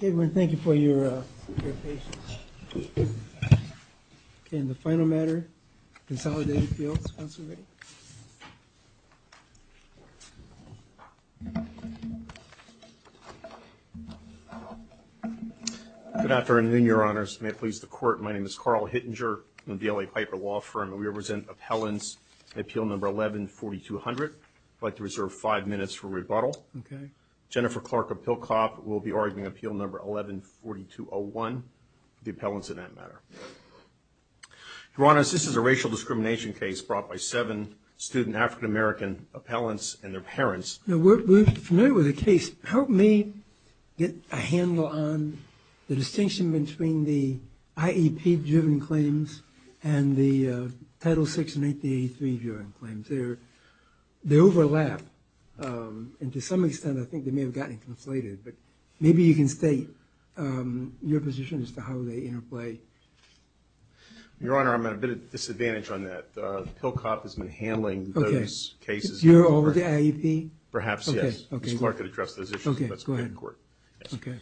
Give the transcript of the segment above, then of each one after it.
Good afternoon, Your Honors. May it please the Court, my name is Carl Hittinger. I'm with the L.A. Piper Law Firm, and we represent Appellants in Appeal No. 11-4200. I'd like to reserve five minutes for rebuttal. Jennifer Clarke of Pilkop will be arguing Appeal No. 11-4201, the appellants in that matter. Your Honors, this is a racial discrimination case brought by seven student African-American appellants and their parents. We're familiar with the case. Help me get a handle on the distinction between the IEP-driven claims and the Title VI and 8083-viewing claims. They overlap, and to some extent I think they may have gotten conflated, but maybe you can state your position as to how they interplay. Your Honor, I'm at a bit of a disadvantage on that. Pilkop has been handling those cases. You're over to IEP? Perhaps, yes. Ms. Clarke could address those issues, but that's up to the Court. Okay.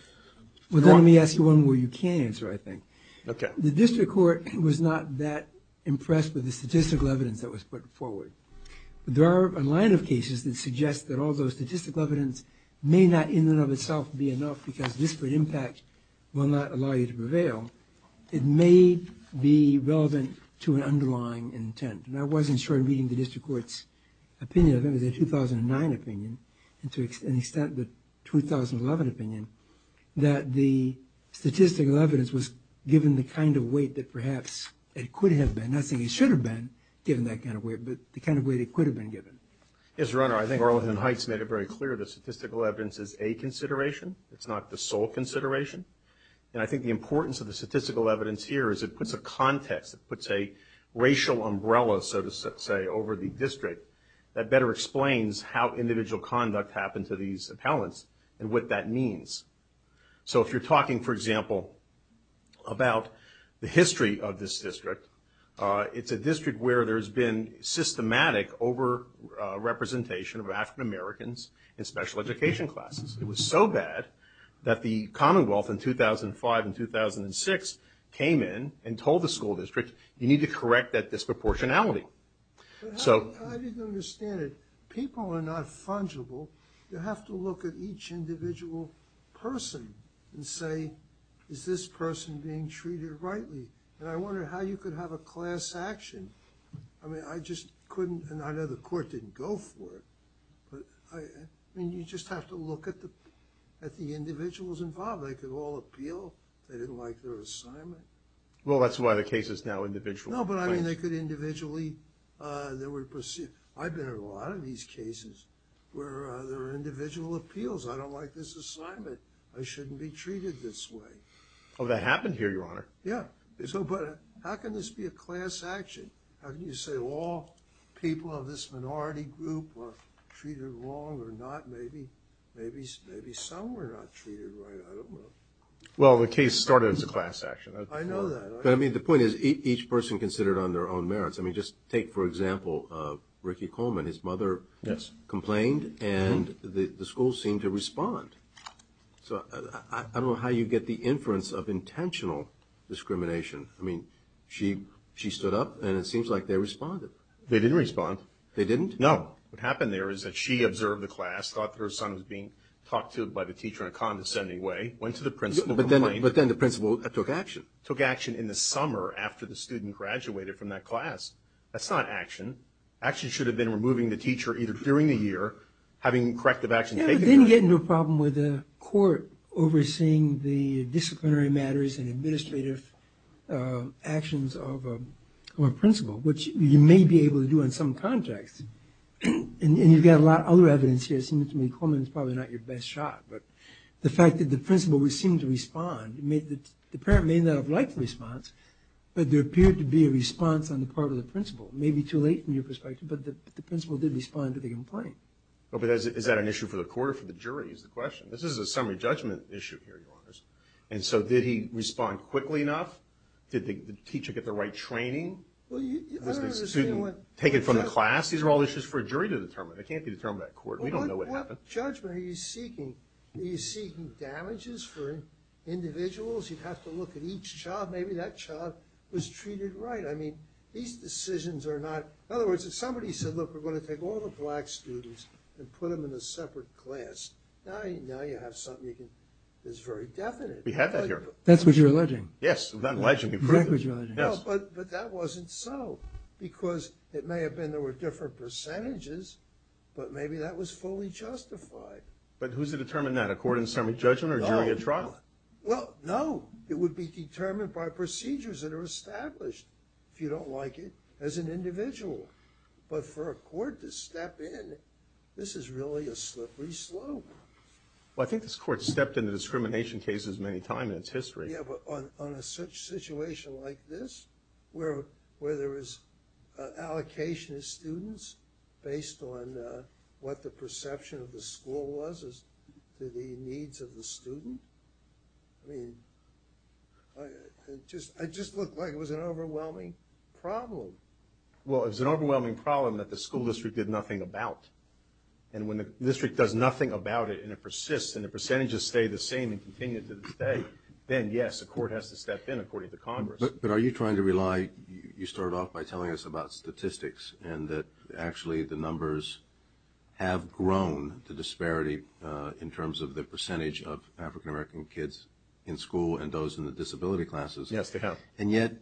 Well, let me ask you one where you can't answer, I think. The District Court was not that impressed with the statistical evidence that was put forward. There are a line of cases that suggest that all those statistical evidence may not in and of itself be enough because disparate impact will not allow you to prevail. It may be relevant to an underlying intent, and I wasn't sure reading the District Court's opinion of it. It was a 2009 opinion, and to an extent the 2011 opinion, that the statistical evidence was given the kind of weight that perhaps it could have been. Not saying it should have been given that kind of weight, but the kind of weight it could have been given. Yes, Your Honor. I think Barleton Heights made it very clear that statistical evidence is a consideration. It's not the sole consideration, and I think the importance of the statistical evidence here is it puts a context, it puts a racial umbrella, so to say, over the district that better explains how individual conduct happened to these appellants and what that means. So if you're talking, for example, about the history of this district, it's a district where there's been systematic over-representation of African Americans in special education classes. It was so bad that the Commonwealth in 2005 and 2006 came in and told the school district, you need to correct that disproportionality. I didn't understand it. People are not fungible. You have to look at each individual person and say, is this person being treated rightly? And I wonder how you could have a class action. I mean, I just couldn't, and I know the court didn't go for it, but I mean, you just have to look at the individuals involved. They could all appeal. They didn't like their assignment. Well, that's why the case is now individual. No, but I mean, they could individually, they were perceived. I've been in a lot of these cases where there are individual appeals. I don't like this assignment. I shouldn't be treated this way. Oh, that happened here, Your Honor. Yeah, but how can this be a class action? How can you say all people of this minority group were treated wrong or not, maybe some were not treated right? I don't know. Well, the case started as a class action. I know that. But I mean, the point is each person considered on their own merits. I mean, just take, for example, Ricky Coleman. His mother complained and the school seemed to respond. So I don't know how you get the inference of intentional discrimination. I mean, she stood up and it seems like they responded. They didn't respond. They didn't? No. What happened there is she observed the class, thought that her son was being talked to by the teacher in a condescending way, went to the principal, complained. But then the principal took action. Took action in the summer after the student graduated from that class. That's not action. Action should have been removing the teacher either during the year, having corrective action taken. Yeah, but then you get into a problem with the court overseeing the disciplinary matters and administrative actions of a principal, which you may be able to do in some context. And you've got a lot of other evidence here. It seems to me Coleman is probably not your best shot. But the fact that the principal would seem to respond, the parent may not have liked the response, but there appeared to be a response on the part of the principal. Maybe too late from your perspective, but the principal did respond to the complaint. But is that an issue for the court or for the jury is the question? This is a summary judgment issue here, your honor. And so did he respond quickly enough? Did the teacher get the right training? Did the student take it from the class? These are all issues for a jury to determine. They can't be determined by the court. We don't know what happened. What judgment are you seeking? Are you seeking damages for individuals? You'd have to look at each child. Maybe that child was treated right. I mean, these decisions are not... In other words, if somebody said, look, we're going to take all the black students and put them in a separate class, now you have something that's very definite. That's what you're alleging. Yes. But that wasn't so because it may have been there were different percentages, but maybe that was fully justified. But who's to determine that, a court in summary judgment or jury at trial? Well, no, it would be determined by procedures that are established. If you don't like it as an individual, but for a court to step in, this is really a slippery slope. Well, I think this court stepped into discrimination cases many times in its history. Yeah, but on a situation like this, where there is allocation of students based on what the perception of the school was as to the needs of the student. I mean, I just looked like it was an overwhelming problem. Well, it was an overwhelming problem that the school district did nothing about. And when the district does nothing about it and it persists and the percentages stay the same and continue to this day, then yes, the court has to step in according to Congress. But are you trying to rely... You started off by telling us about statistics and that actually the numbers have grown to disparity in terms of the percentage of African-American kids in school and those in the disability classes. Yes, they have. And yet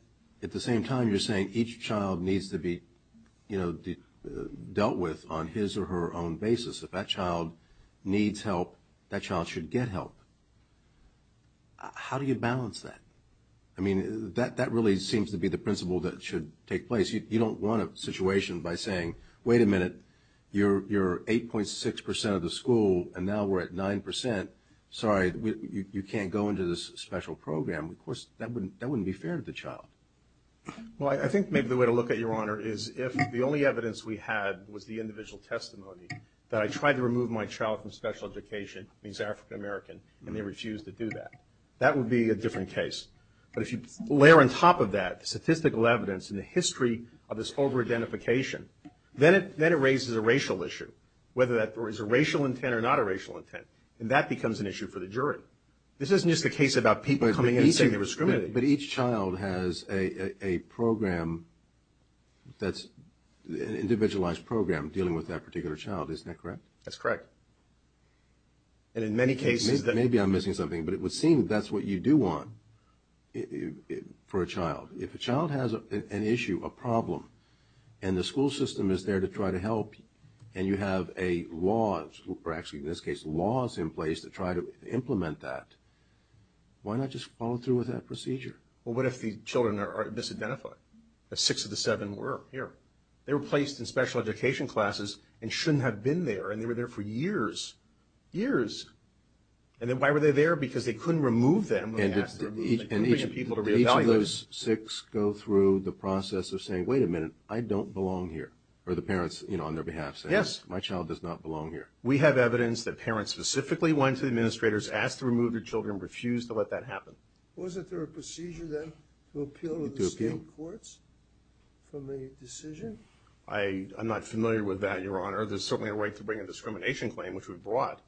at the same time, you're saying each child needs to be dealt with on his or her own basis. If that child needs help, that child should get help. How do you balance that? I mean, that really seems to be the principle that should take place. You don't want a situation by saying, wait a minute, you're 8.6% of the school and now we're at 9%. Sorry, you can't go into this special program. Of course, that wouldn't be fair to the is if the only evidence we had was the individual testimony that I tried to remove my child from special education, means African-American, and they refused to do that. That would be a different case. But if you layer on top of that the statistical evidence and the history of this over-identification, then it raises a racial issue, whether that was a racial intent or not a racial intent. And that becomes an issue for the jury. This isn't just a case about people coming in and saying they were discriminated. But each child has a program that's an individualized program dealing with that particular child, isn't that correct? That's correct. And in many cases that... Maybe I'm missing something, but it would seem that's what you do want for a child. If a child has an issue, a problem, and the school system is there to try to help, and you have a actually, in this case, laws in place to try to implement that, why not just follow through with that procedure? Well, what if the children are disidentified? The six of the seven were here. They were placed in special education classes and shouldn't have been there, and they were there for years, years. And then why were they there? Because they couldn't remove them. And each of those six go through the process of saying, wait a minute, I don't belong here. Or the parents, you know, yes, my child does not belong here. We have evidence that parents specifically went to the administrators, asked to remove their children, refused to let that happen. Wasn't there a procedure then to appeal to the state courts from the decision? I'm not familiar with that, your honor. There's certainly a right to bring a discrimination claim, which we brought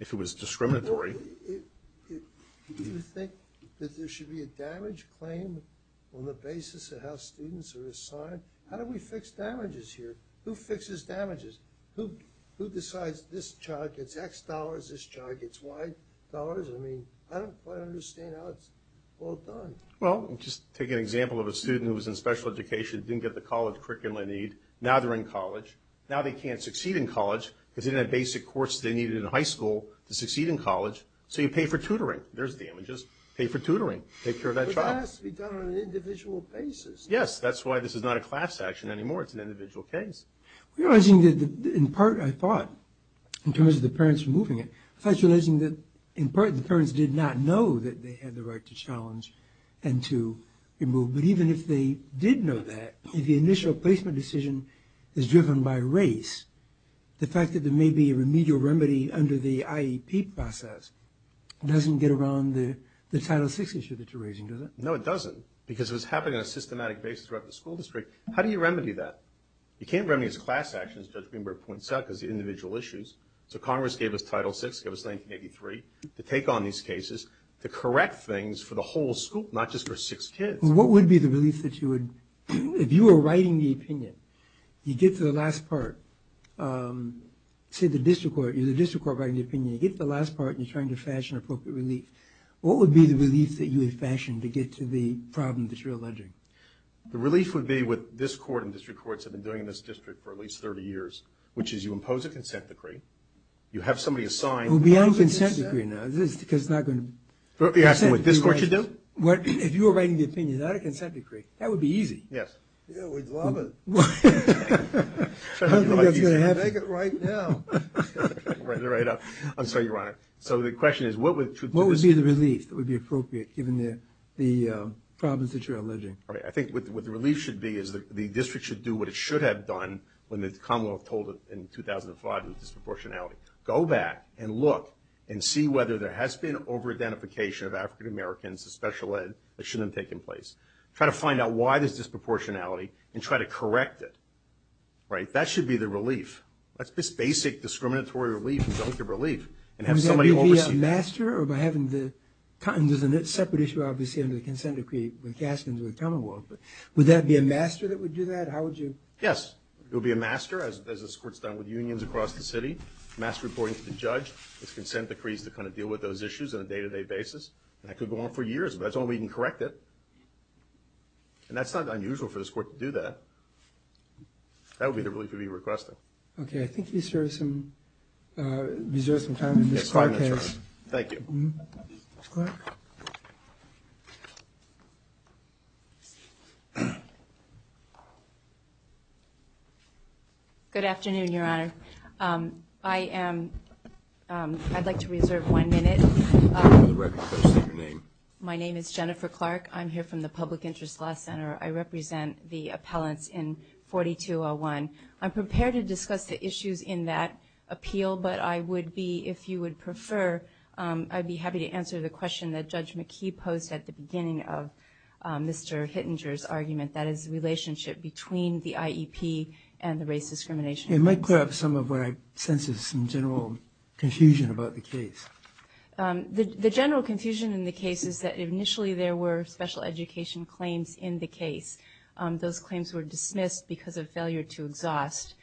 if it was discriminatory. Do you think that there should be a damage claim on the basis of how who fixes damages? Who decides this child gets X dollars, this child gets Y dollars? I mean, I don't quite understand how it's all done. Well, just take an example of a student who was in special education, didn't get the college curriculum they need. Now they're in college. Now they can't succeed in college because they didn't have basic course they needed in high school to succeed in college. So you pay for tutoring. There's damages. Pay for tutoring. Take care of that child. But that has to be done on an individual basis. Yes, that's why this is not a class action anymore. It's an individual case. In part, I thought, in terms of the parents removing it, I was realizing that in part the parents did not know that they had the right to challenge and to remove. But even if they did know that, if the initial placement decision is driven by race, the fact that there may be a remedial remedy under the IEP process doesn't get around the Title VI issue that you're raising, does it? No, it doesn't, because it was happening on a systematic basis throughout the school district. How do you remedy that? You can't remedy it as a class action, as Judge Greenberg points out, because the individual issues. So Congress gave us Title VI, gave us 1983, to take on these cases, to correct things for the whole school, not just for six kids. What would be the relief that you would, if you were writing the opinion, you get to the last part, say the district court, you're the district court writing the opinion, you get to the last part and you're trying to fashion appropriate relief, what would be the relief that you would fashion to get to the problem that you're alleging? The relief would be what this court and district courts have been doing in this district for at least 30 years, which is you impose a consent decree, you have somebody assigned... We'll be on consent decree now, is this, because it's not going to... You're asking what this court should do? What, if you were writing the opinion, not a consent decree, that would be easy. Yes. Yeah, we'd love it. I don't think that's going to happen. Make it right now. Right, right up. I'm sorry, Your Honor. So the question is, what would... What would be the relief that would be appropriate given the problems that you're alleging? All right, I think what the relief should be is the district should do what it should have done when the commonwealth told it in 2005 with disproportionality. Go back and look and see whether there has been over-identification of African-Americans, the special ed, that shouldn't have taken place. Try to find out why there's disproportionality and try to correct it. Right, that should be the relief. That's just basic discriminatory relief. We don't give relief. And have somebody oversee... Or by having the... And there's a separate issue, obviously, under the consent decree with Gaskins or the commonwealth, but would that be a master that would do that? How would you... Yes, it would be a master, as this court's done with unions across the city, mass reporting to the judge. It's consent decrees to kind of deal with those issues on a day-to-day basis. And that could go on for years, but that's the only way you can correct it. And that's not unusual for this court to do that. That would be the relief you'd be requesting. Okay, I think you deserve some time in this broadcast. Thank you. Good afternoon, Your Honor. I'd like to reserve one minute. My name is Jennifer Clark. I'm here from the Public Interest Law Center. I represent the appellants in 4201. I'm prepared to discuss the issues in that appeal, but I would be, if you would prefer, I'd be happy to answer the question that Judge McKee posed at the beginning of Mr. Hittinger's argument, that is the relationship between the IEP and the race discrimination. It might clear up some of what I sense is some general confusion about the case. The general confusion in the case is that initially there were special education claims in the case. Those claims were dismissed because of failure to exhaust.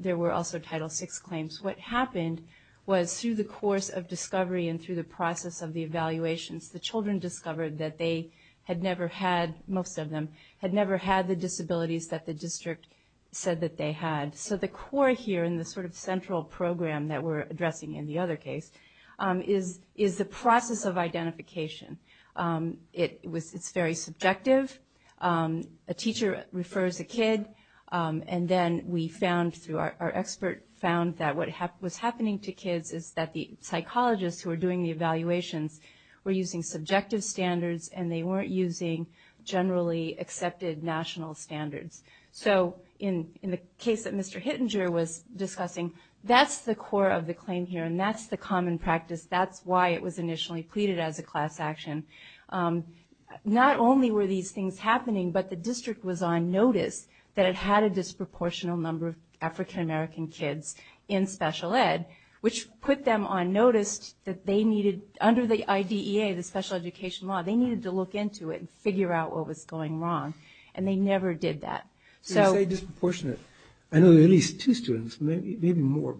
There were also Title VI claims. What happened was through the course of discovery and through the process of the evaluations, the children discovered that they had never had, most of them, had never had the disabilities that the district said that they had. So the core here in the sort of central program that we're addressing in the other case is the process of identification. It's very subjective. A teacher refers a kid and then we found through our expert found that what was happening to kids is that the psychologists who are doing the evaluations were using subjective standards and they weren't using generally accepted national standards. So in the case that Mr. Hittinger was discussing, that's the core of the claim here and that's the common practice. That's why it was initially pleaded as a class action. Not only were these things happening, but the district was on notice that it had a disproportional number of African-American kids in special ed, which put them on notice that they needed, under the IDEA, the special education law, they needed to look into it and figure out what was going wrong and they never did that. So you say disproportionate. I know there are at least two students, maybe more,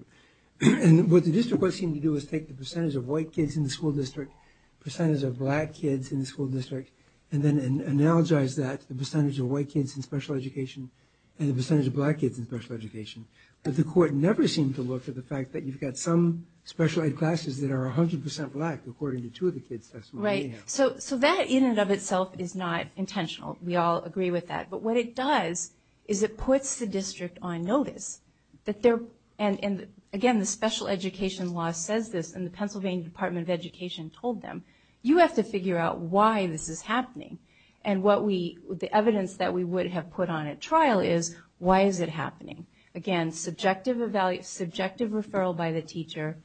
and what the district seemed to do is take the percentage of white kids in the district, percentage of black kids in the school district, and then analogize that to the percentage of white kids in special education and the percentage of black kids in special education. But the court never seemed to look at the fact that you've got some special ed classes that are 100% black according to two of the kids. Right. So that in and of itself is not intentional. We all agree with that. But what it does is it puts the district on notice that they're, and again, the special education law says this, and the Pennsylvania Department of Education told them, you have to figure out why this is happening. And the evidence that we would have put on at trial is, why is it happening? Again, subjective referral by the teacher,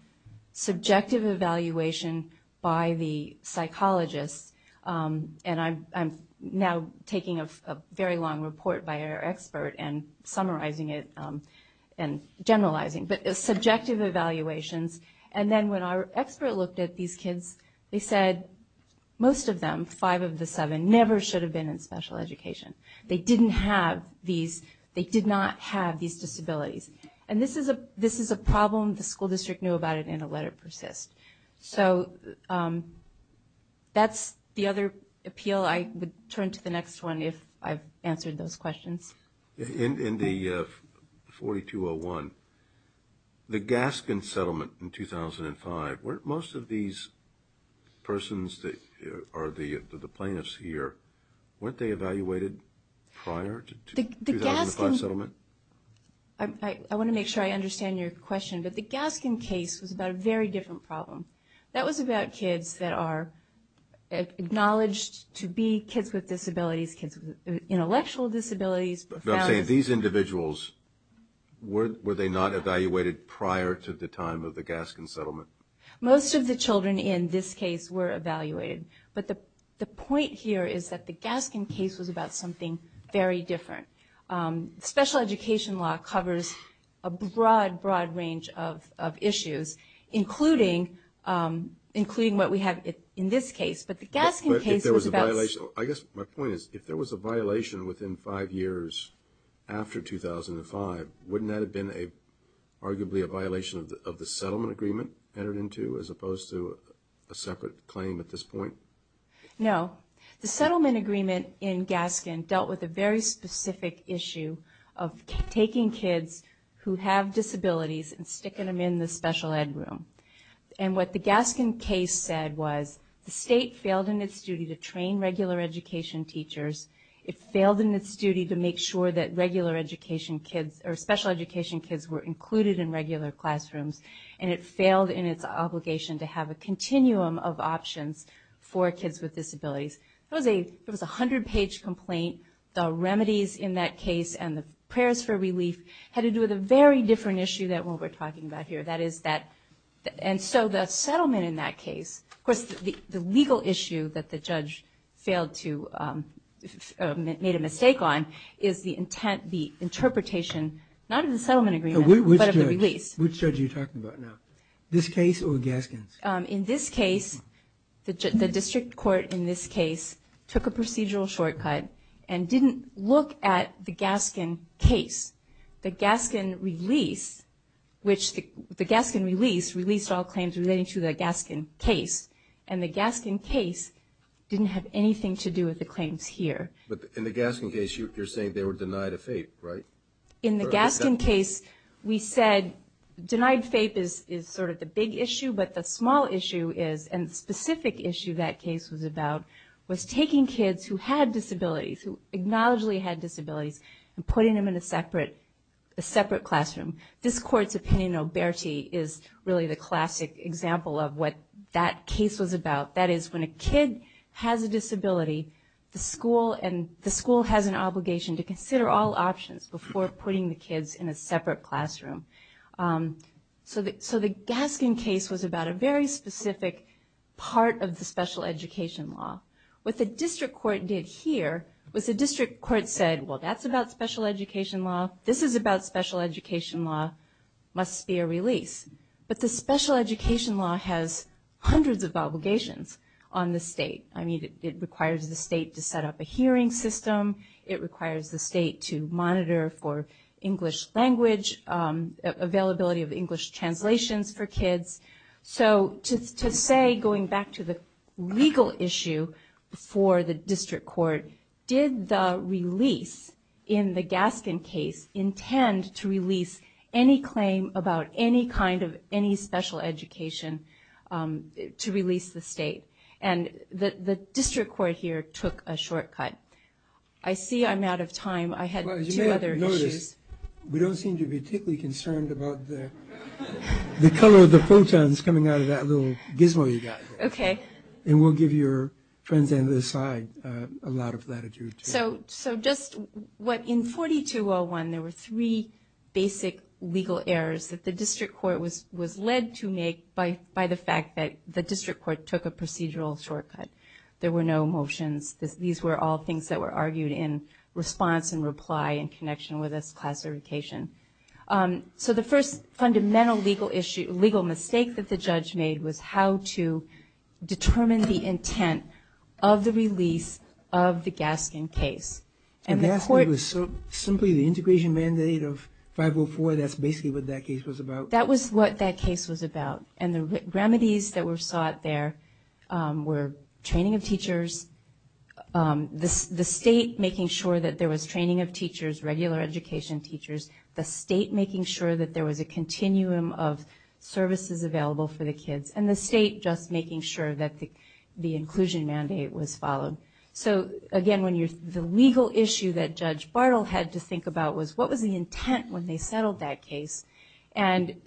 subjective evaluation by the psychologist, and I'm now taking a very long report by our expert and summarizing it and generalizing, but subjective evaluations. And then when our expert looked at these kids, they said most of them, five of the seven, never should have been in special education. They didn't have these, they did not have these disabilities. And this is a problem, the school district knew about it, and it let it persist. So that's the other appeal. I would to the next one if I've answered those questions. In the 4201, the Gaskin settlement in 2005, weren't most of these persons that are the plaintiffs here, weren't they evaluated prior to the 2005 settlement? I want to make sure I understand your question, but the Gaskin case was about a very different problem. That was about kids that are acknowledged to be kids with disabilities, kids with intellectual disabilities. I'm saying these individuals, were they not evaluated prior to the time of the Gaskin settlement? Most of the children in this case were evaluated, but the point here is that the Gaskin case was about something very different. Special education law covers a broad, broad range of issues, including what we have in this case, but the Gaskin case was about... I guess my point is, if there was a violation within five years after 2005, wouldn't that have been arguably a violation of the settlement agreement entered into, as opposed to a separate claim at this point? No. The settlement agreement in Gaskin dealt with a very specific issue of taking kids who have disabilities and sticking them in the special ed room. What the Gaskin case said was, the state failed in its duty to train regular education teachers. It failed in its duty to make sure that special education kids were included in regular classrooms, and it failed in its obligation to have a continuum of options for kids with disabilities. It was a 100-page complaint. The remedies in that case and the prayers for relief had to do with a very different issue than what we're talking about here, and so the settlement in that case... Of course, the legal issue that the judge failed to... made a mistake on is the interpretation, not of the settlement agreement, but of the release. Which judge are you talking about now? This case or Gaskin's? In this case, the district court in this case took a procedural shortcut and didn't look at the Gaskin case. The Gaskin release released all claims relating to the Gaskin case, and the Gaskin case didn't have anything to do with the claims here. But in the Gaskin case, you're saying they were denied a FAPE, right? In the Gaskin case, we said denied FAPE is sort of the big issue, but the small issue and specific issue that case was about was taking kids who had disabilities, who acknowledged they had disabilities, and putting them in a separate classroom. This court's opinion, Oberti, is really the classic example of what that case was about. That is, when a kid has a disability, the school has an obligation to consider all options before putting the kids in a separate classroom. So the Gaskin case was about a very specific part of the special education law. What the district court did here was the district court said, well, that's about special education law. This is about special education law. Must be a release. But the special education law has hundreds of obligations on the state. I mean, it requires the state to set up a hearing system. It requires the state to monitor for English language, availability of English translations for kids. So to say, going back to the legal issue for the district court, did the release in the Gaskin case intend to release any claim about any kind of any special education to release the state? And the district court here took a shortcut. I see I'm out of time. I had two other issues. Well, as you may have noticed, we don't seem to be particularly concerned about the color of the photons coming out of that little gizmo you've got here. Okay. And we'll give your friends on the other side a lot of latitude. So just what, in 4201, there were three basic legal errors that the district court was led to make by the fact that the district court took a procedural shortcut. There were no motions. These were all things that were argued in response and reply in connection with this classification. So the first fundamental legal mistake that the judge made was how to determine the intent of the release of the Gaskin case. And Gaskin was simply the integration mandate of 504. That's basically what that case was about. So that was what that case was about. And the remedies that were sought there were training of teachers, the state making sure that there was training of teachers, regular education teachers, the state making sure that there was a continuum of services available for the kids, and the state just making sure that the inclusion mandate was followed. So again, the legal issue that Judge Bartle had to think about was what was the intent when they settled that case. And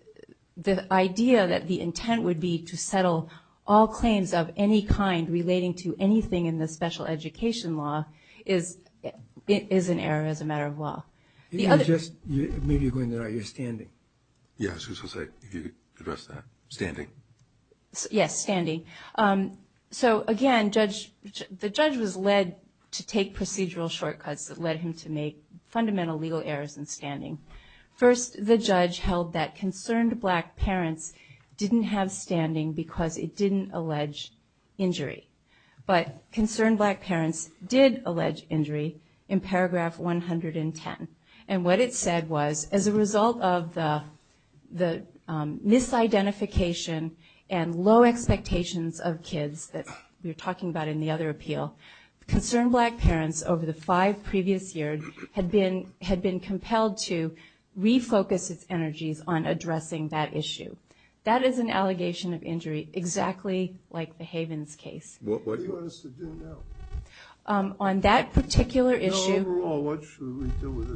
the idea that the intent would be to settle all claims of any kind relating to anything in the special education law is an error as a matter of law. Maybe you're going there now. You're standing. Yes, I was just going to say, you addressed that. Standing. Yes, standing. So again, the judge was led to take procedural shortcuts that led him to make fundamental legal errors in standing. First, the judge held that concerned black parents didn't have standing because it didn't allege injury. But concerned black parents did allege injury in paragraph 110. And what it said was, as a result of the misidentification and low expectations of kids that we were talking about in the other appeal, concerned black parents over the five previous years had been compelled to refocus its energies on addressing that issue. That is an allegation of injury, exactly like the Havens case. What do you want us to do now? On that particular issue... No, overall, what should we do with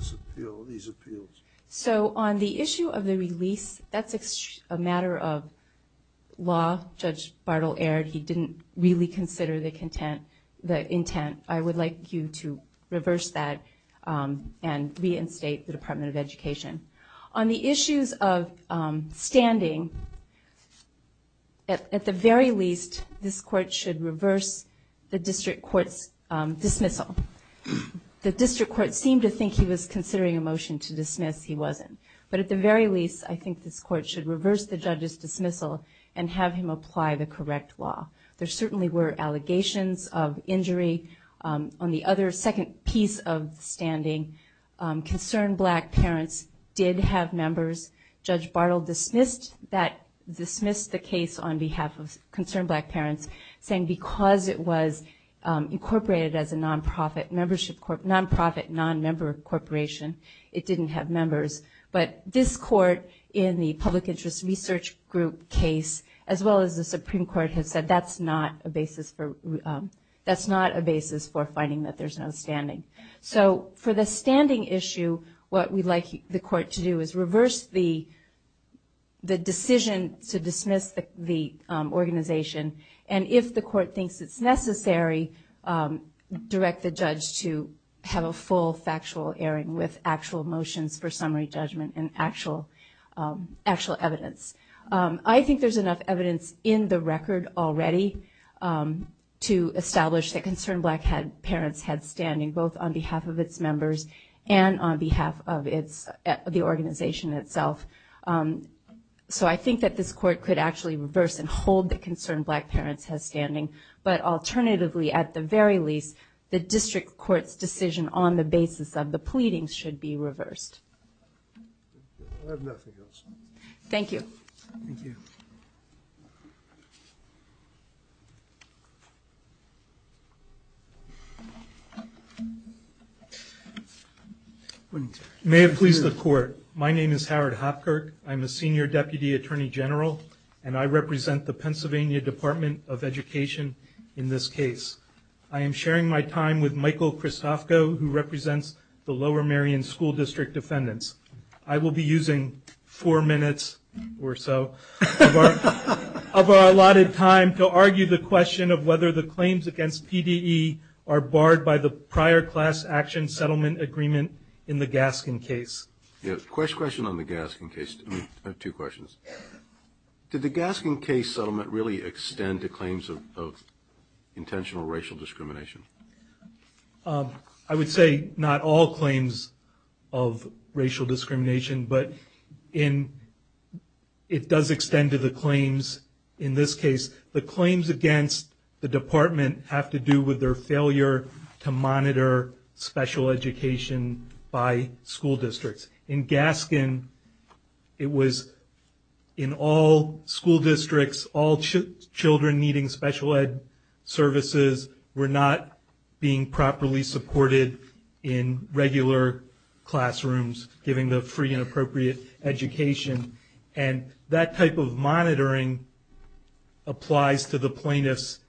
these appeals? So on the issue of the release, that's a matter of law. Judge Bartle erred. He didn't really consider the intent. I would like you to reverse that and reinstate the Department of Education. On the issues of standing, at the very least, this court should reverse the district court's dismissal. The district court seemed to think he was considering a motion to dismiss. He wasn't. But at the very least, I think this court should reverse the judge's dismissal and have him apply the correct law. There certainly were allegations of injury. On the other second piece of standing, concerned black parents did have members. Judge Bartle dismissed the case on behalf of concerned black parents, saying because it was incorporated as a non-profit, non-member corporation, it didn't have members. But this court in the Public Interest Research Group case, as well as the Supreme Court, has said that's not a basis for finding that there's no standing. So for the standing issue, what we'd like the court to do is reverse the decision to dismiss the organization, and if the court thinks it's necessary, direct the judge to have a full factual airing with actual motions for summary judgment and actual evidence. I think there's enough evidence in the record already to establish that concerned black parents had standing, both on behalf of its members and on behalf of the organization itself. So I think that this court could actually reverse and hold the concerned black parents has standing, but alternatively, at the very least, the district court's decision on the basis of the pleadings should be reversed. May it please the court. My name is Howard Hopkirk. I'm a senior deputy attorney general, and I represent the Pennsylvania Department of Education in this case. I am sharing my time with Michael Christofko, who represents the Lower Merion School District Defendants. I will be using four minutes or so of our allotted time to argue the question of whether the claims against PDE are barred by the prior class action settlement agreement in the Gaskin case. I have two questions. Did the Gaskin case settlement really extend to claims of intentional racial discrimination? I would say not all claims of racial discrimination, but it does extend to the claims in this case. The claims against the department have to do with their failure to monitor special education by school districts. In Gaskin, it was in all school districts, all children needing special ed services were not being properly supported in regular classrooms given the free and appropriate education, and that type of monitoring applies to the plaintiffs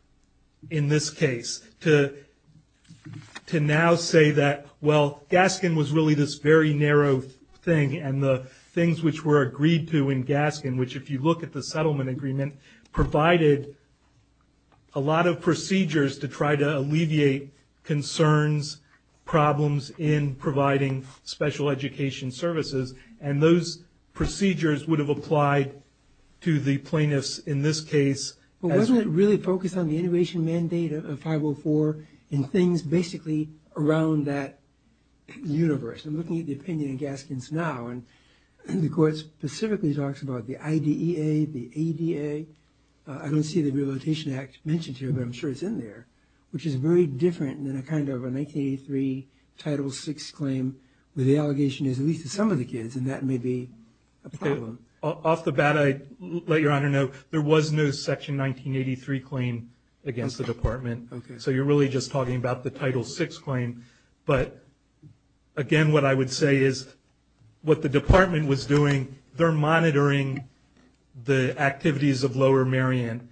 in this case. To now say that, well, Gaskin was really this very narrow thing, and the things which were agreed to in Gaskin, which if you look at the settlement agreement, provided a lot of procedures to try to alleviate concerns, problems in providing special education services, and those procedures would have applied to the plaintiffs in this case. But wasn't it really focused on the integration mandate of 504 and things basically around that universe? I'm looking at the opinion in Gaskin's now, and the court specifically talks about the IDEA, the ADA. I don't see the Rehabilitation Act mentioned here, but I'm sure it's in there, which is very different than a 1983 Title VI claim where the allegation is at least to some of the kids, and that may be a problem. Off the bat, I'd let Your Honor know, there was no Section 1983 claim against the Department, so you're really just talking about the Title VI claim. But again, what I would say is what the Department was doing, they're monitoring the activities of Lower Marion,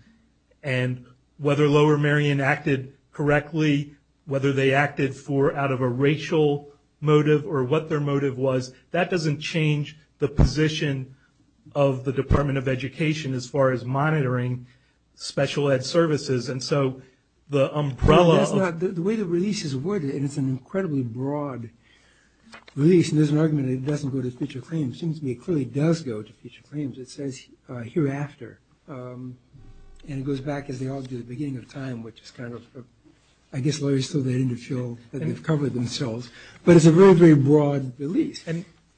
and whether Lower Marion acted correctly, whether they acted out of a racial motive or what their of the Department of Education as far as monitoring special ed services, and so the umbrella of... The way the release is worded, and it's an incredibly broad release, and there's an argument that it doesn't go to future claims. It seems to me it clearly does go to future claims. It says hereafter, and it goes back, as they all do, to the beginning of time, which is kind of, I guess lawyers still don't feel that they've covered themselves. But it's a very, very broad release.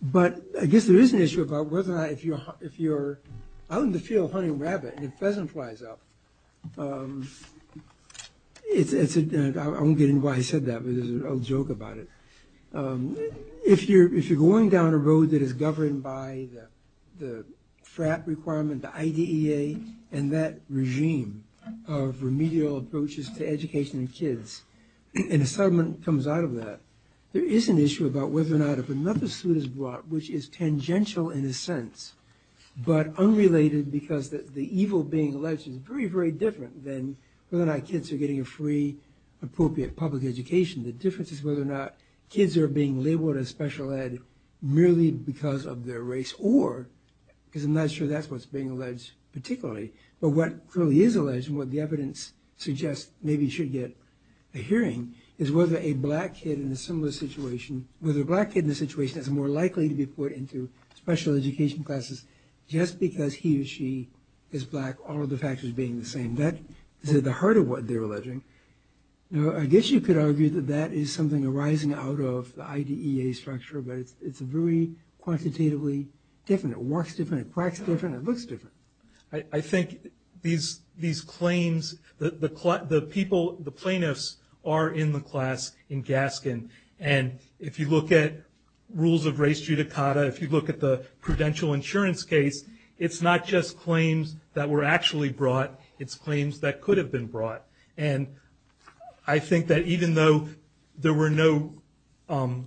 But I guess there is an issue about whether or not, if you're out in the field hunting rabbit, and a pheasant flies up, it's a... I won't get into why I said that, but it's a joke about it. If you're going down a road that is governed by the FRAP requirement, the IDEA, and that regime of remedial approaches to education in kids, and a settlement comes out of that, there is an issue about whether or not if another suit is brought, which is tangential in a sense, but unrelated because the evil being alleged is very, very different than whether or not kids are getting a free, appropriate public education. The difference is whether or not kids are being labeled as special ed merely because of their race, or, because I'm not sure that's what's being alleged particularly, but what really is alleged, and what the evidence suggests maybe should get a hearing, is whether a black kid in a similar situation, whether a black kid in the situation is more likely to be put into special education classes just because he or she is black, all of the factors being the same. That is at the heart of what they're alleging. Now I guess you could argue that that is something arising out of the IDEA structure, but it's very quantitatively different. It walks different, it quacks different, it I think these claims, the plaintiffs are in the class in Gaskin, and if you look at rules of race judicata, if you look at the prudential insurance case, it's not just claims that were actually brought, it's claims that could have been brought. I think that even though there were no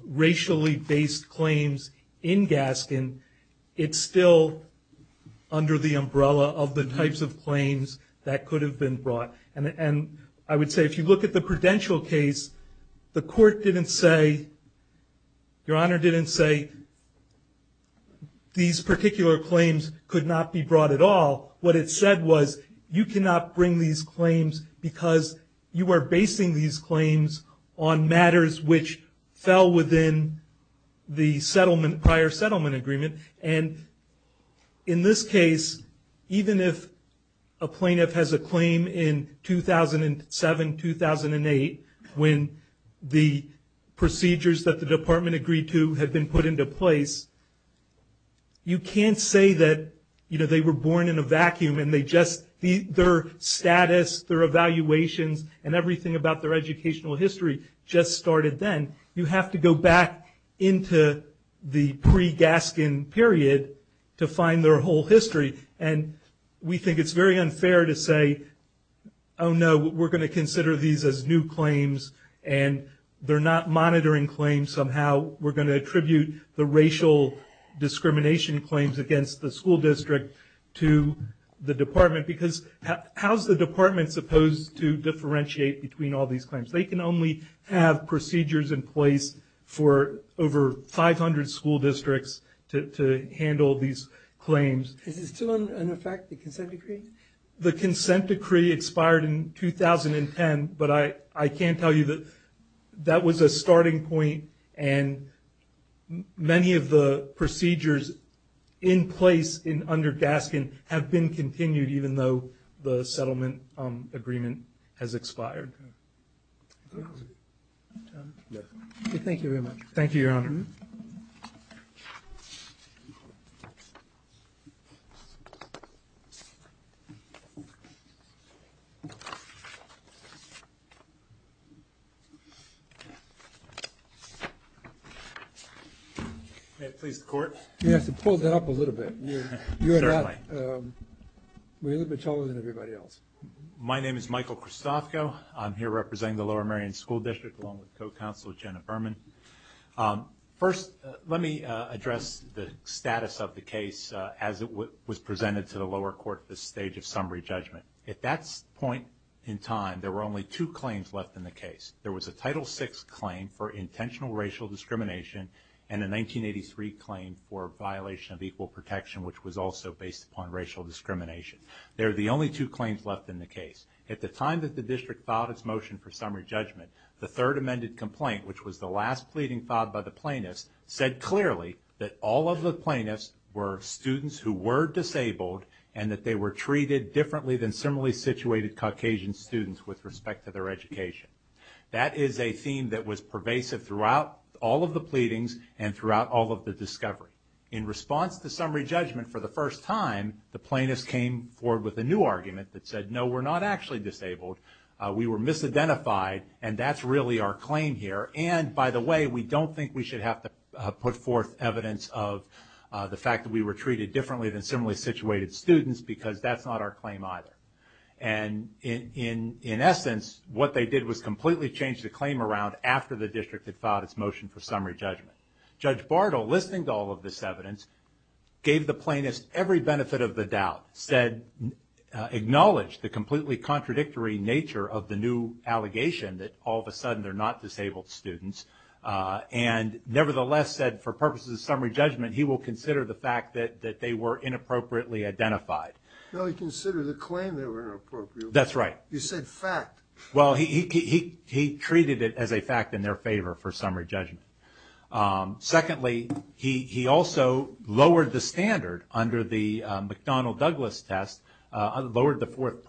racially based claims in Gaskin, it's still under the umbrella of the type of claims that could have been brought. I would say if you look at the prudential case, the court didn't say, your honor didn't say these particular claims could not be brought at all. What it said was you cannot bring these claims because you are basing these claims on matters which fell within the settlement, prior settlement agreement, and in this case even if a plaintiff has a claim in 2007, 2008, when the procedures that the department agreed to had been put into place, you can't say that they were born in a vacuum and their status, their evaluations, and everything about their educational history just started then. You have to go back into the pre-Gaskin period to find their whole history, and I think it's very unfair to say, oh no, we're going to consider these as new claims and they're not monitoring claims somehow. We're going to attribute the racial discrimination claims against the school district to the department because how's the department supposed to differentiate between all these claims? They can only have procedures in place for over 500 school districts to handle these claims. Is it still in effect, the consent decree? The consent decree expired in 2010, but I can tell you that that was a starting point and many of the procedures in place under Gaskin have been continued even though the settlement agreement has expired. Thank you very much. Thank you, Your Honor. May it please the Court? You have to pull that up a little bit. Certainly. You're a little bit taller than everybody else. My name is Michael Christofko. I'm here representing the Lower Marion School District along with Counselor Jenna Berman. First, let me address the status of the case as it was presented to the lower court at this stage of summary judgment. At that point in time, there were only two claims left in the case. There was a Title VI claim for intentional racial discrimination and a 1983 claim for violation of equal protection, which was also based upon racial discrimination. They were the only two claims left in the case. At the time that the district filed its motion for summary judgment, the third amended complaint, which was the last pleading filed by the plaintiffs, said clearly that all of the plaintiffs were students who were disabled and that they were treated differently than similarly situated Caucasian students with respect to their education. That is a theme that was pervasive throughout all of the pleadings and throughout all of the discovery. In response to summary judgment for the first time, the plaintiffs came forward with a new claim that they were disidentified and that's really our claim here. By the way, we don't think we should have to put forth evidence of the fact that we were treated differently than similarly situated students because that's not our claim either. In essence, what they did was completely change the claim around after the district had filed its motion for summary judgment. Judge Bartle, listening to all of this evidence, gave the plaintiffs every benefit of the new allegation that all of a sudden they're not disabled students and nevertheless said for purposes of summary judgment, he will consider the fact that they were inappropriately identified. No, he considered the claim they were inappropriate. That's right. You said fact. Well, he treated it as a fact in their favor for summary judgment. Secondly, he also lowered the standard under the McDonnell-Douglas test, lowered the fourth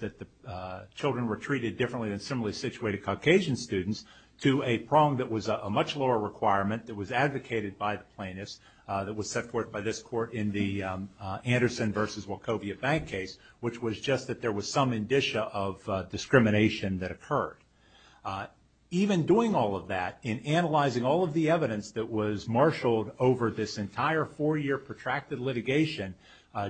that children were treated differently than similarly situated Caucasian students to a prong that was a much lower requirement that was advocated by the plaintiffs that was set forth by this court in the Anderson versus Wachovia bank case, which was just that there was some indicia of discrimination that occurred. Even doing all of that, in analyzing all of the evidence that was marshaled over this entire four-year protracted litigation,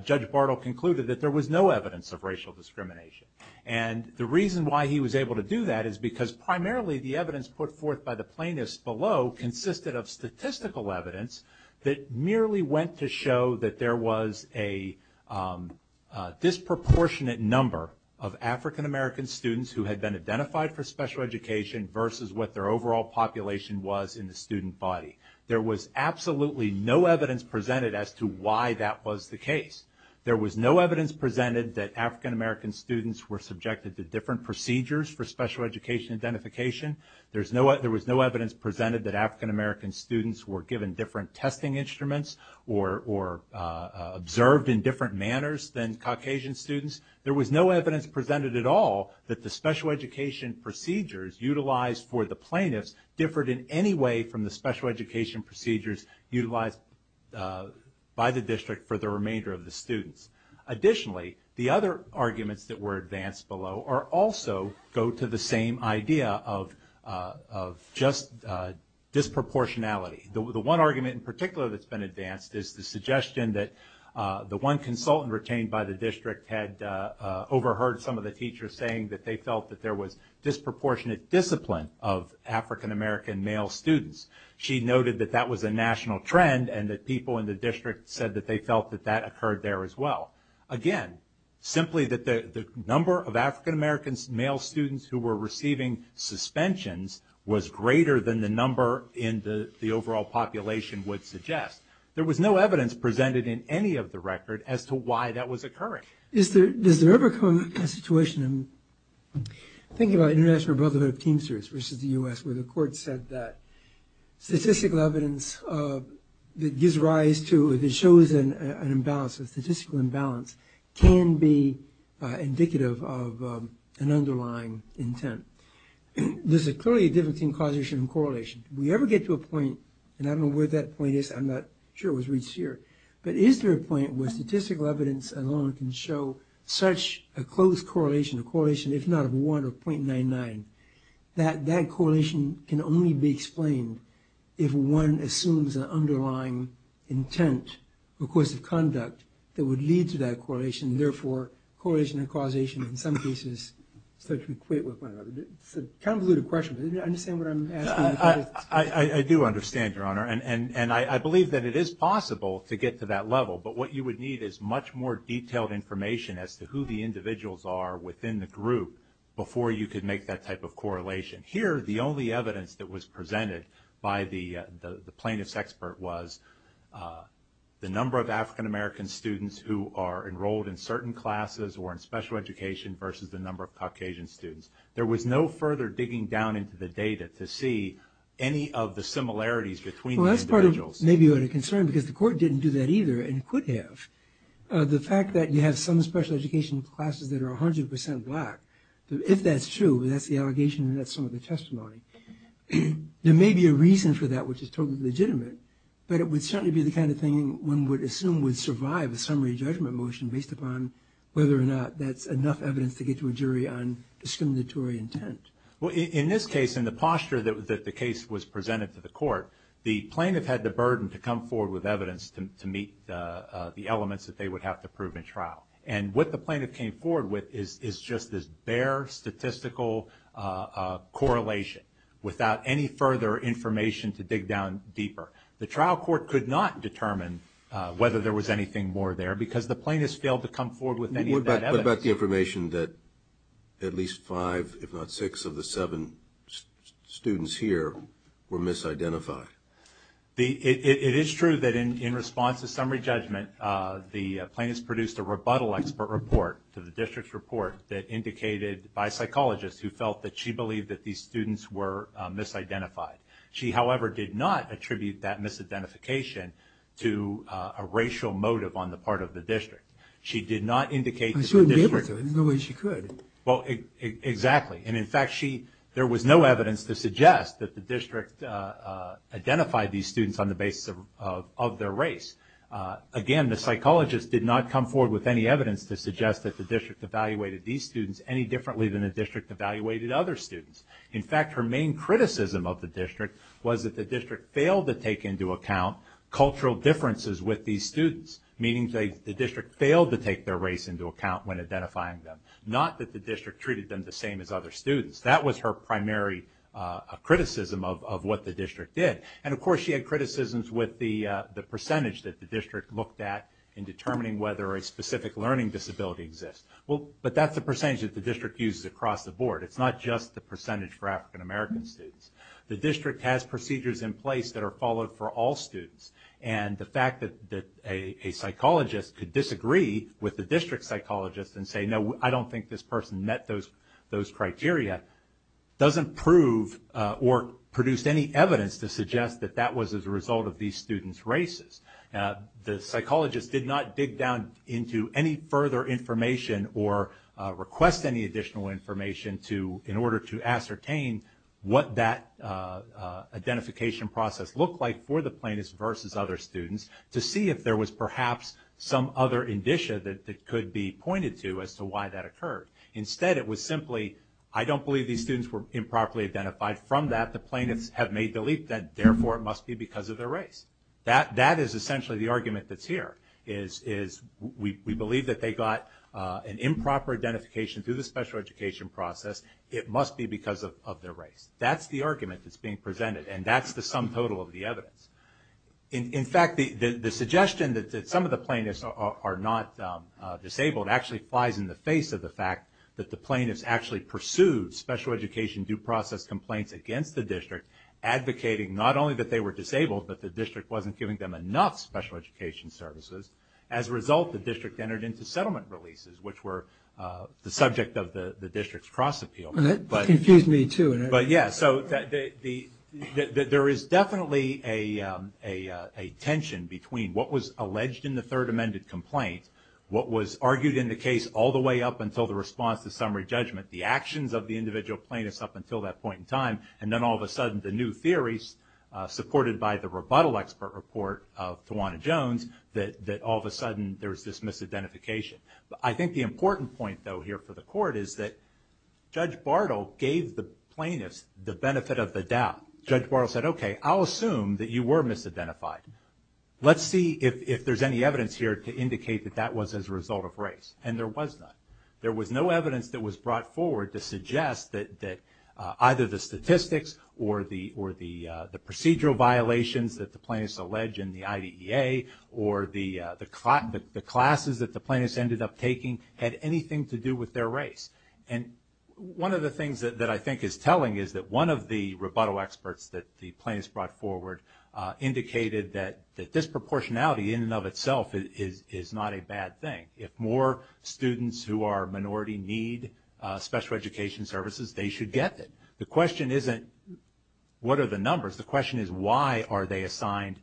Judge Bartle concluded that there was no evidence of racial discrimination. The reason why he was able to do that is because primarily the evidence put forth by the plaintiffs below consisted of statistical evidence that merely went to show that there was a disproportionate number of African American students who had been identified for special education versus what their overall population was in the student body. There was absolutely no evidence presented as to why that was the case. There was no evidence presented that African American students were subjected to different procedures for special education identification. There was no evidence presented that African American students were given different testing instruments or observed in different manners than Caucasian students. There was no evidence presented at all that the special education procedures utilized for the plaintiffs differed in any way from the special education procedures utilized by the district for the remainder of the students. Additionally, the other arguments that were advanced below also go to the same idea of just disproportionality. The one argument in particular that's been advanced is the suggestion that the one consultant retained by the district had overheard some of the teachers saying that they felt that there was disproportionate discipline of African American male students. She noted that that was a national trend and that people in the district said that they felt that that occurred there as well. Again, simply that the number of African American male students who were receiving suspensions was greater than the number in the overall population would suggest. There was no evidence presented in any of the record as to why that was occurring. Is there ever a situation, I'm thinking about the International Brotherhood of Teamsters versus the U.S., where the court said that statistical evidence that gives rise to, that shows an imbalance, a statistical imbalance, can be indicative of an underlying intent? There's clearly a difference in causation and correlation. Do we ever get to a point, and I don't know where that point is, I'm not sure it was reached here, but is there a point where statistical evidence alone can show such a close correlation, a correlation, if not of one, of .99, that that correlation can only be explained if one assumes an underlying intent because of conduct that would lead to that correlation, and therefore correlation and causation in some cases start to equate with one another? It's a convoluted question, but do you understand what I'm asking? I do understand, Your Honor, and I believe that it is possible to get to that level, but what you would need is much more detailed information as to who the individuals are within the group before you could make that type of correlation. Here, the only evidence that was presented by the plaintiff's expert was the number of African American students who are enrolled in certain classes or in special education versus the number of Caucasian students. There was no further digging down into the data to see any of the similarities between the individuals. Well, that's part of, maybe you had a concern because the court didn't do that either and could have. The fact that you have some special education classes that are 100% black, if that's true, that's the allegation and that's some of the testimony, there may be a reason for that which is totally legitimate, but it would certainly be the kind of thing one would assume would survive a summary judgment motion based upon whether or not that's enough evidence to get to a jury on discriminatory intent. Well, in this case, in the posture that the case was presented to the court, the plaintiff had the burden to come forward with evidence to meet the elements that they would have to prove in trial. And what the plaintiff came forward with is just this bare statistical correlation without any further information to dig down deeper. The trial court could not determine whether there was anything more there because the plaintiff failed to come forward with any of that evidence. What about the information that at least five, if not six of the seven students here were misidentified? It is true that in response to summary judgment, the plaintiff produced a rebuttal expert report to the district's report that indicated by psychologists who felt that she believed that these students were misidentified. She, however, did not attribute that misidentification to a racial motive on the part of the district. She did not indicate to the district... She wouldn't be able to. There's no way she could. Well, exactly. And in fact, there was no evidence to suggest that the district identified these students on the basis of their race. Again, the psychologist did not come forward with any evidence to suggest that the district evaluated these students any differently than the district evaluated other students. In fact, her main criticism of the district was that the district failed to take into account cultural differences with these students. Meaning the district failed to take their race into account when identifying them. Not that the district treated them the same as other students. That was her primary criticism of what the district did. And of course, she had criticisms with the percentage that the district looked at in determining whether a specific learning disability exists. But that's the percentage that the district uses across the board. It's not just the percentage for African American students. The district has procedures in place that are followed for all students. And the fact that a psychologist could disagree with the district psychologist and say, no, I don't think this person met those criteria, doesn't prove or produce any evidence to suggest that that was a result of these students' races. The psychologist did not dig down into any further information or request any additional information in order to ascertain what that identification process looked like for the plaintiffs versus other students to see if there was perhaps some other indicia that could be pointed to as to why that occurred. Instead, it was simply, I don't believe these students were improperly identified. From that, the plaintiffs have made the leap that therefore it must be because of their race. That is essentially the argument that's here. We believe that they got an improper identification through the special education process. It must be because of their race. That's the argument that's being presented. And that's the sum total of the evidence. In fact, the suggestion that some of the plaintiffs are not disabled actually flies in the face of the fact that the plaintiffs actually pursued special education due process complaints against the district, advocating not only that they were disabled, but the district wasn't giving them enough special education services. As a result, the district entered into settlement releases, which were the subject of the district's cross-appeal. That confused me too. There is definitely a tension between what was alleged in the third amended complaint, what was argued in the case all the way up until the response to summary judgment, and then all of a sudden the new theories, supported by the rebuttal expert report of Tawana Jones, that all of a sudden there's this misidentification. I think the important point though here for the court is that Judge Bartle gave the plaintiffs the benefit of the doubt. Judge Bartle said, okay, I'll assume that you were misidentified. Let's see if there's any evidence here to indicate that that was as a result of race. And there was none. There was no evidence that was brought forward to suggest that either the statistics or the procedural violations that the plaintiffs allege in the IDEA, or the classes that the plaintiffs ended up taking, had anything to do with their race. And one of the things that I think is telling is that one of the rebuttal experts that the plaintiffs brought forward indicated that disproportionality in and of itself is not a bad thing. If more students who are minority need special education services, they should get them. The question isn't, what are the numbers? The question is, why are they assigned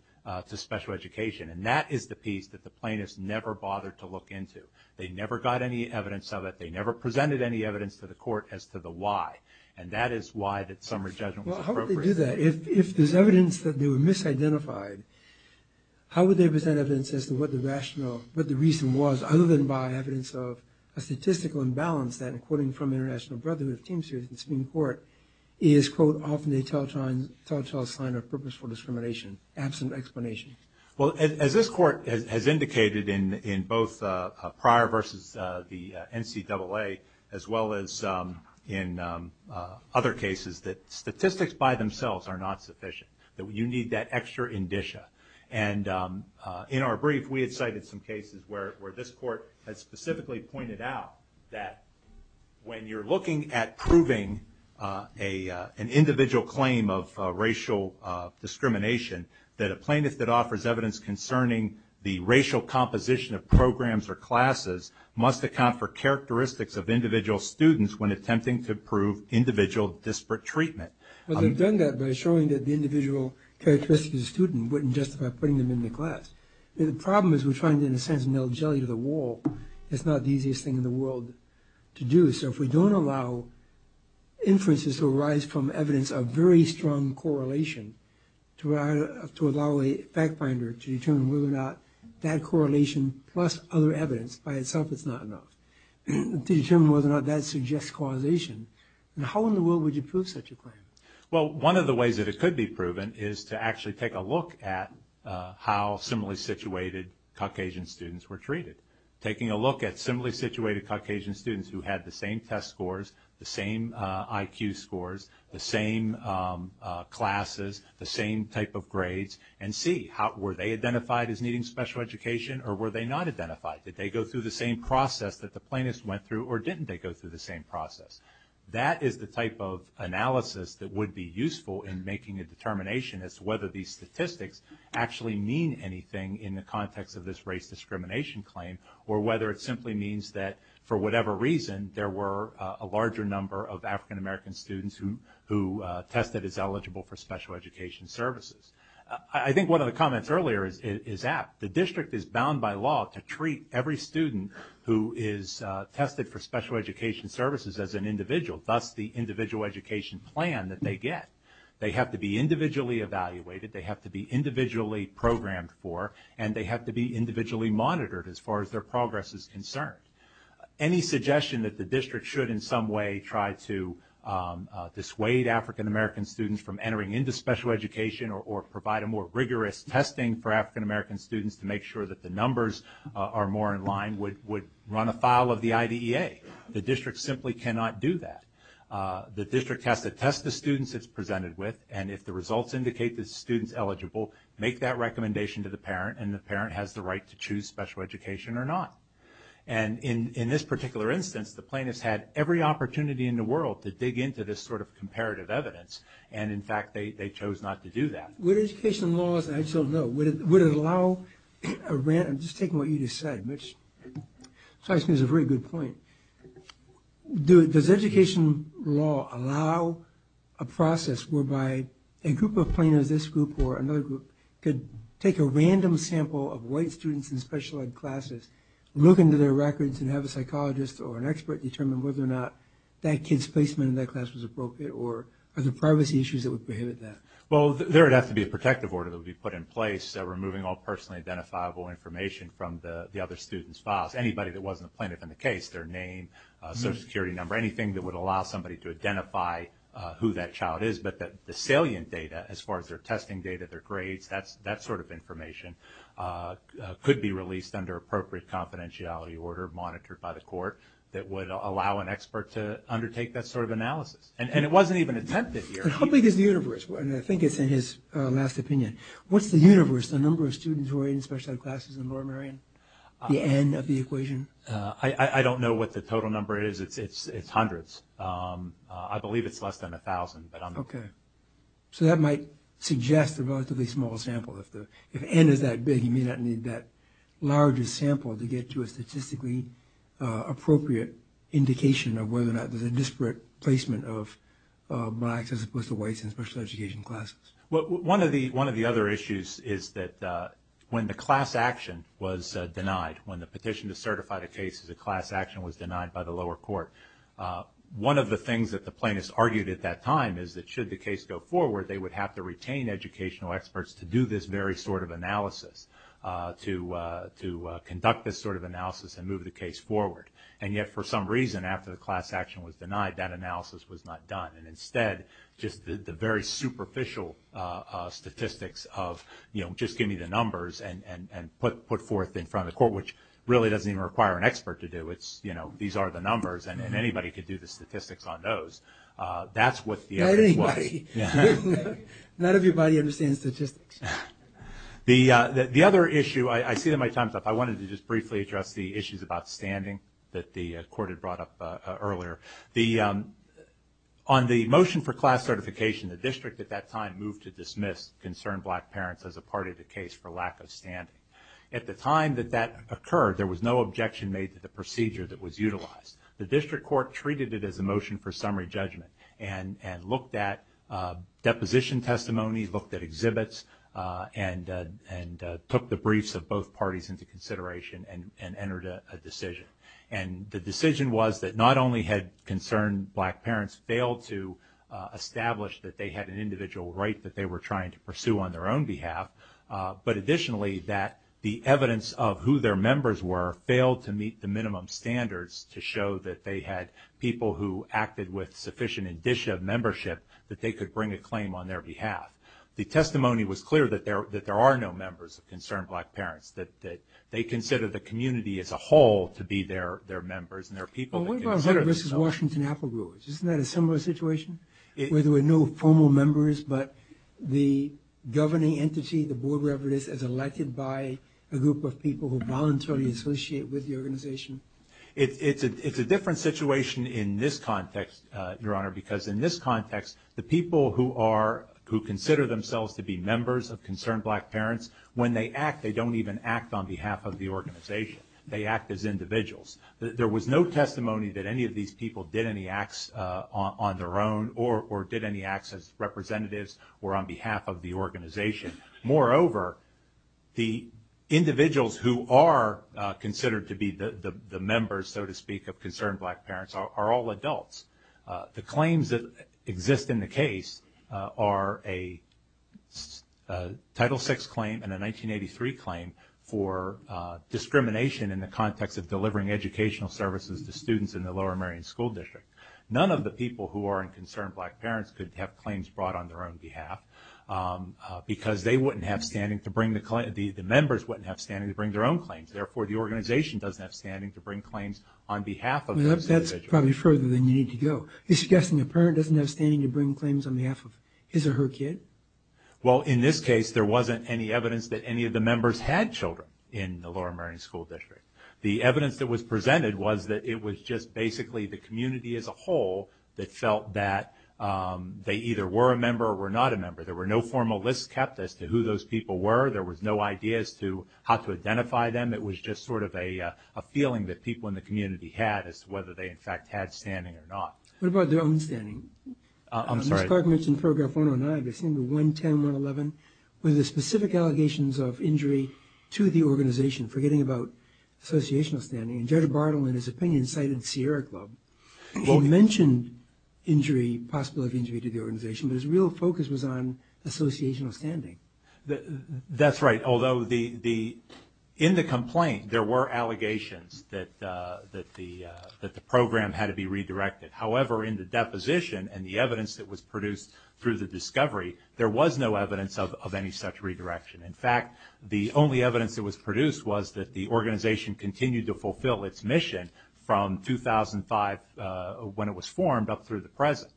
to special education? And that is the piece that the plaintiffs never bothered to look into. They never got any evidence of it. They never presented any evidence to the court as to the why. And that is why that summary judgment was appropriate. Well, how would they do that? If there's evidence that they were misidentified, how would they present evidence as to what the rationale, other than by evidence of a statistical imbalance that, according from International Brotherhood of Teamsters in Supreme Court, is, quote, often a telltale sign of purposeful discrimination, absent explanation? Well, as this court has indicated in both prior versus the NCAA, as well as in other cases, that statistics by themselves are not sufficient. You need that extra indicia. And in our brief, we had cited some cases where this court has specifically pointed out that when you're looking at proving an individual claim of racial discrimination, that a plaintiff that offers evidence concerning the racial composition of programs or classes must account for characteristics of individual students when attempting to prove individual disparate treatment. Well, they've done that by showing that the individual characteristics of the student wouldn't justify putting them in the class. The problem is we're trying, in a sense, to nail jelly to the wall. It's not the easiest thing in the world to do. So if we don't allow inferences to arise from evidence of very strong correlation, to allow a fact-finder to determine whether or not that correlation plus other evidence by itself is not enough, to determine whether or not that suggests causation, how in the world would you prove such a claim? Well, one of the ways that it could be proven is to actually take a look at how similarly situated Caucasian students were treated. Taking a look at similarly situated Caucasian students who had the same test scores, the same IQ scores, the same classes, the same type of grades, and see were they identified as needing special education or were they not identified? Did they go through the same process that the plaintiff went through or didn't they go through the same process? That is the type of analysis that would be useful in making a determination as to whether these statistics actually mean anything in the context of this race discrimination claim or whether it simply means that for whatever reason there were a larger number of African American students who tested as eligible for special education services. I think one of the comments earlier is apt. The district is bound by law to treat every student who is tested for special education services as an individual. That's the individual education plan that they get. They have to be individually evaluated, they have to be individually programmed for, and they have to be individually monitored as far as their progress is concerned. Any suggestion that the district should in some way try to dissuade African American students from entering into special education or provide a more rigorous testing for African American students to make sure that the numbers are more in line would run afoul of the IDEA. The district simply cannot do that. The district has to test the students it's presented with and if the results indicate that the student's eligible, make that recommendation to the parent and the parent has the right to choose special education or not. And in this particular instance, the plaintiffs had every opportunity in the world to dig into this sort of comparative evidence, and in fact they chose not to do that. With education laws, I don't know, would it allow a random, just taking what you just said, which strikes me as a very good point, does education law allow a process whereby a group of plaintiffs, this group or another group, could take a random sample of white students in special ed classes, look into their records and have a psychologist or an expert determine whether or not that kid's placement in that class was appropriate or are there privacy issues that would prohibit that? Well, there would have to be a protective order that would be put in place removing all personally identifiable information from the other student's files, anybody that wasn't a plaintiff in the case, their name, social security number, anything that would allow somebody to identify who that child is, but the salient data, as far as their testing data, their grades, that sort of information could be released under appropriate confidentiality order monitored by the court that would allow an expert to undertake that sort of analysis. And it wasn't even attempted here. But how big is the universe? And I think it's in his last opinion. What's the universe, the number of students who are in special ed classes in the Lower Merion, the N of the equation? I don't know what the total number is. It's hundreds. I believe it's less than 1,000. Okay. So that might suggest a relatively small sample. If N is that big, you may not need that largest sample to get to a statistically appropriate indication of whether or not there's a disparate placement of blacks as opposed to whites in special education classes. Well, one of the other issues is that when the class action was denied, when the petition to certify the case as a class action was denied by the lower court, one of the things that the plaintiffs argued at that time is that should the case go forward, they would have to retain educational experts to do this very sort of analysis, to conduct this sort of analysis and move the case forward. And yet, for some reason, after the class action was denied, that analysis was not done. Instead, just the very superficial statistics of, you know, just give me the numbers and put forth in front of the court, which really doesn't even require an expert to do. It's, you know, these are the numbers, and anybody could do the statistics on those. That's what the evidence was. Not everybody. Not everybody understands statistics. The other issue... I see that my time's up. I wanted to just briefly address the issues about standing that the court had brought up earlier. The... On the motion for class certification, the district at that time moved to dismiss concerned black parents as a part of the case for lack of standing. At the time that that occurred, there was no objection made to the procedure that was utilized. The district court treated it as a motion for summary judgment and looked at deposition testimony, looked at exhibits, and took the briefs of both parties into consideration and entered a decision. And the decision was that not only had concerned black parents failed to establish that they had an individual right that they were trying to pursue on their own behalf, but additionally that the evidence of who their members were failed to meet the minimum standards to show that they had people who acted with sufficient indicia of membership that they could bring a claim on their behalf. The testimony was clear that there are no members of concerned black parents, that they consider the community as a whole to be their members and their people. Isn't that a similar situation? Where there were no formal members but the governing entity, the board wherever it is, is elected by a group of people who voluntarily associate with the organization? It's a different situation in this context, Your Honor, because in this context, the people who consider themselves to be members of concerned black parents, when they act, they don't even act on behalf of the organization. They act as individuals. There was no testimony that any of these people did any acts on their own or did any acts as representatives or on behalf of the organization. Moreover, the individuals who are considered to be the members, so to speak, of concerned black parents are all adults. The claims that exist in the case are a Title VI claim and a 1983 claim for discrimination in the context of delivering educational services to students in the Lower Marion School District. None of the people who are in concerned black parents could have claims brought on their own behalf because the members wouldn't have standing to bring their own claims. Therefore, the organization doesn't have standing to bring claims on behalf of those individuals. That's probably further than you need to go. You're suggesting a parent doesn't have standing to bring claims on behalf of his or her kid? Well, in this case, there wasn't any evidence that any of the members had children in the Lower Marion School District. The evidence that was presented was that it was just basically the community as a whole that felt that they either were a member or were not a member. There were no formal lists kept as to who those people were. There was no idea as to how to identify them. It was just sort of a feeling that people in the community had as to whether they in fact had standing or not. What about their own standing? Mr. Clark mentioned Paragraph 109, but I've seen the 110, 111, with the specific allegations of injury to the organization, forgetting about associational standing. Judge Bartle, in his opinion, cited Sierra Club. He mentioned injury, possibility of injury to the organization, but his real focus was on associational standing. That's right, although in the complaint there were allegations that the program had to be redirected. However, in the deposition and the evidence that was produced through the discovery, there was no evidence of any such redirection. In fact, the only evidence that was produced was that the organization continued to fulfill its mission from 2005 when it was formed up through the present.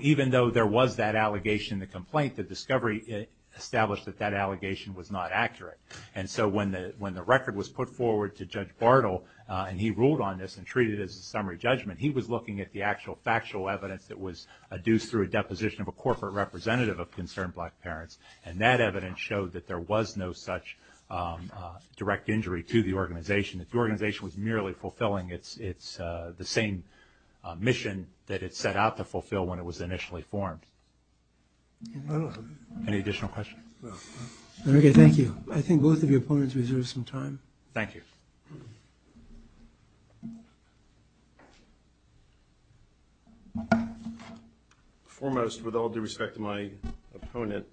Even though there was that allegation in the complaint, the discovery established that that allegation was not accurate. When the record was put forward to Judge Bartle, and he ruled on this and treated it as a summary judgment, he was looking at the actual factual evidence that was adduced through a deposition of a corporate representative of Concerned Black Parents, and that evidence showed that there was no such direct injury to the organization, that the organization was merely fulfilling the same mission that it set out to fulfill when it was initially formed. Any additional questions? Okay, thank you. I think both of your opponents reserved some time. Thank you. Foremost, with all due respect to my opponent,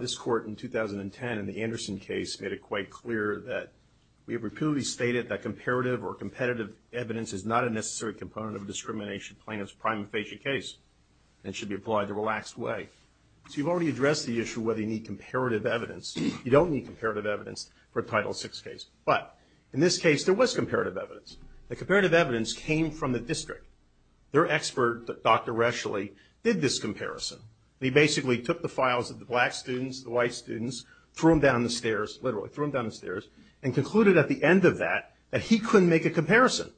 this Court in 2010 in the Anderson case made it quite clear that we have repeatedly stated that comparative or competitive evidence is not a necessary component of a discrimination plaintiff's prima facie case and should be applied in a relaxed way. So you've already addressed the issue whether you need comparative evidence. You don't need comparative evidence for a Title VI case, but in this case there was comparative evidence. The comparative evidence came from the district. Their expert, Dr. Rescheli, did this comparison. He basically took the files of the black students, the white students, threw them down the stairs, and concluded at the end of that that he couldn't make a comparison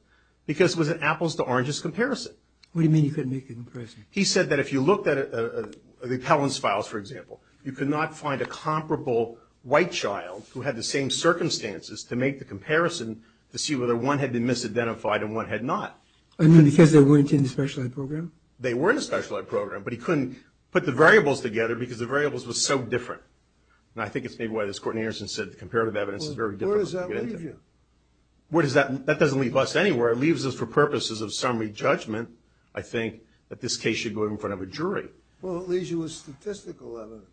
because it was an apples-to-oranges comparison. What do you mean you couldn't make a comparison? He said that if you looked at the appellant's files, for example, you could not find a comparable white child who had the same circumstances to make the comparison to see whether one had been misidentified and one had not. I mean, because they weren't in the specialized program? They were in the specialized program, but he couldn't put the variables together because the variables were so different. And I think it's maybe why this Court in Anderson said the comparative evidence is very difficult to get into. That doesn't leave us anywhere. It leaves us for purposes of summary judgment, I think, that this case should go in front of a jury. Well, it leaves you with statistical evidence.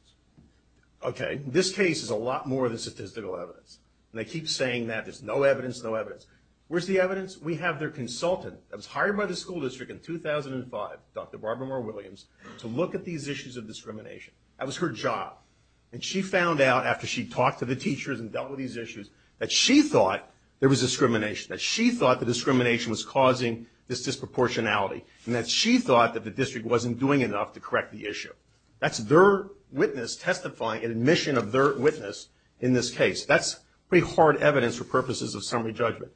Okay. This case is a lot more than statistical evidence. And they keep saying that. There's no evidence, no evidence. Where's the evidence? We have their consultant. I was hired by the school district in 2005, Dr. Barbara Moore Williams, to look at these issues of discrimination. That was her job. And she found out, after she talked to the teachers and dealt with these issues, that she thought there was discrimination, that she thought the discrimination was causing this disproportionality, and that she thought that the district wasn't doing enough to correct the issue. That's their witness testifying in admission of their witness in this case. That's pretty hard evidence for purposes of summary judgment.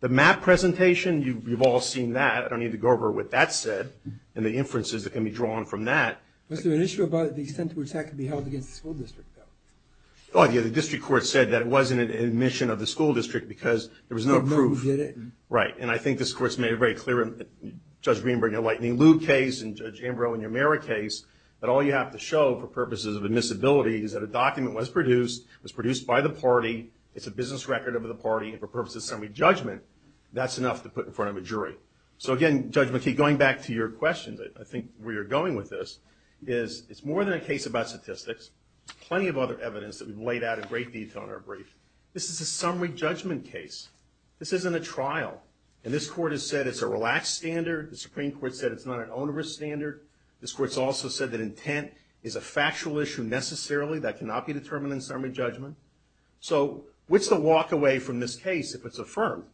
The map presentation, you've all seen that. I don't need to go over what that said and the inferences that can be drawn from that. Was there an issue about the extent to which that could be held against the school district? Oh, yeah, the district court said that it wasn't an admission of the school district because there was no proof. Right. And I think this court's made it very clear in Judge Greenberg and Lightning Liu's case and Judge Ambrose and your Mara case that all you have to show for purposes of admissibility is that a document was produced, was produced by the party, it's a business record of the party, and for purposes of summary judgment that's enough to put in front of a jury. So again, Judge McKee, going back to your questions, I think where you're going with this is it's more than a case about statistics. There's plenty of other evidence that we've laid out in great detail in our brief. This is a summary judgment case. This isn't a trial. And this court has said it's a relaxed standard. The Supreme Court said it's not an onerous standard. This court's also said that intent is a factual issue necessarily that cannot be determined in summary judgment. So what's the walk away from this case if it's affirmed?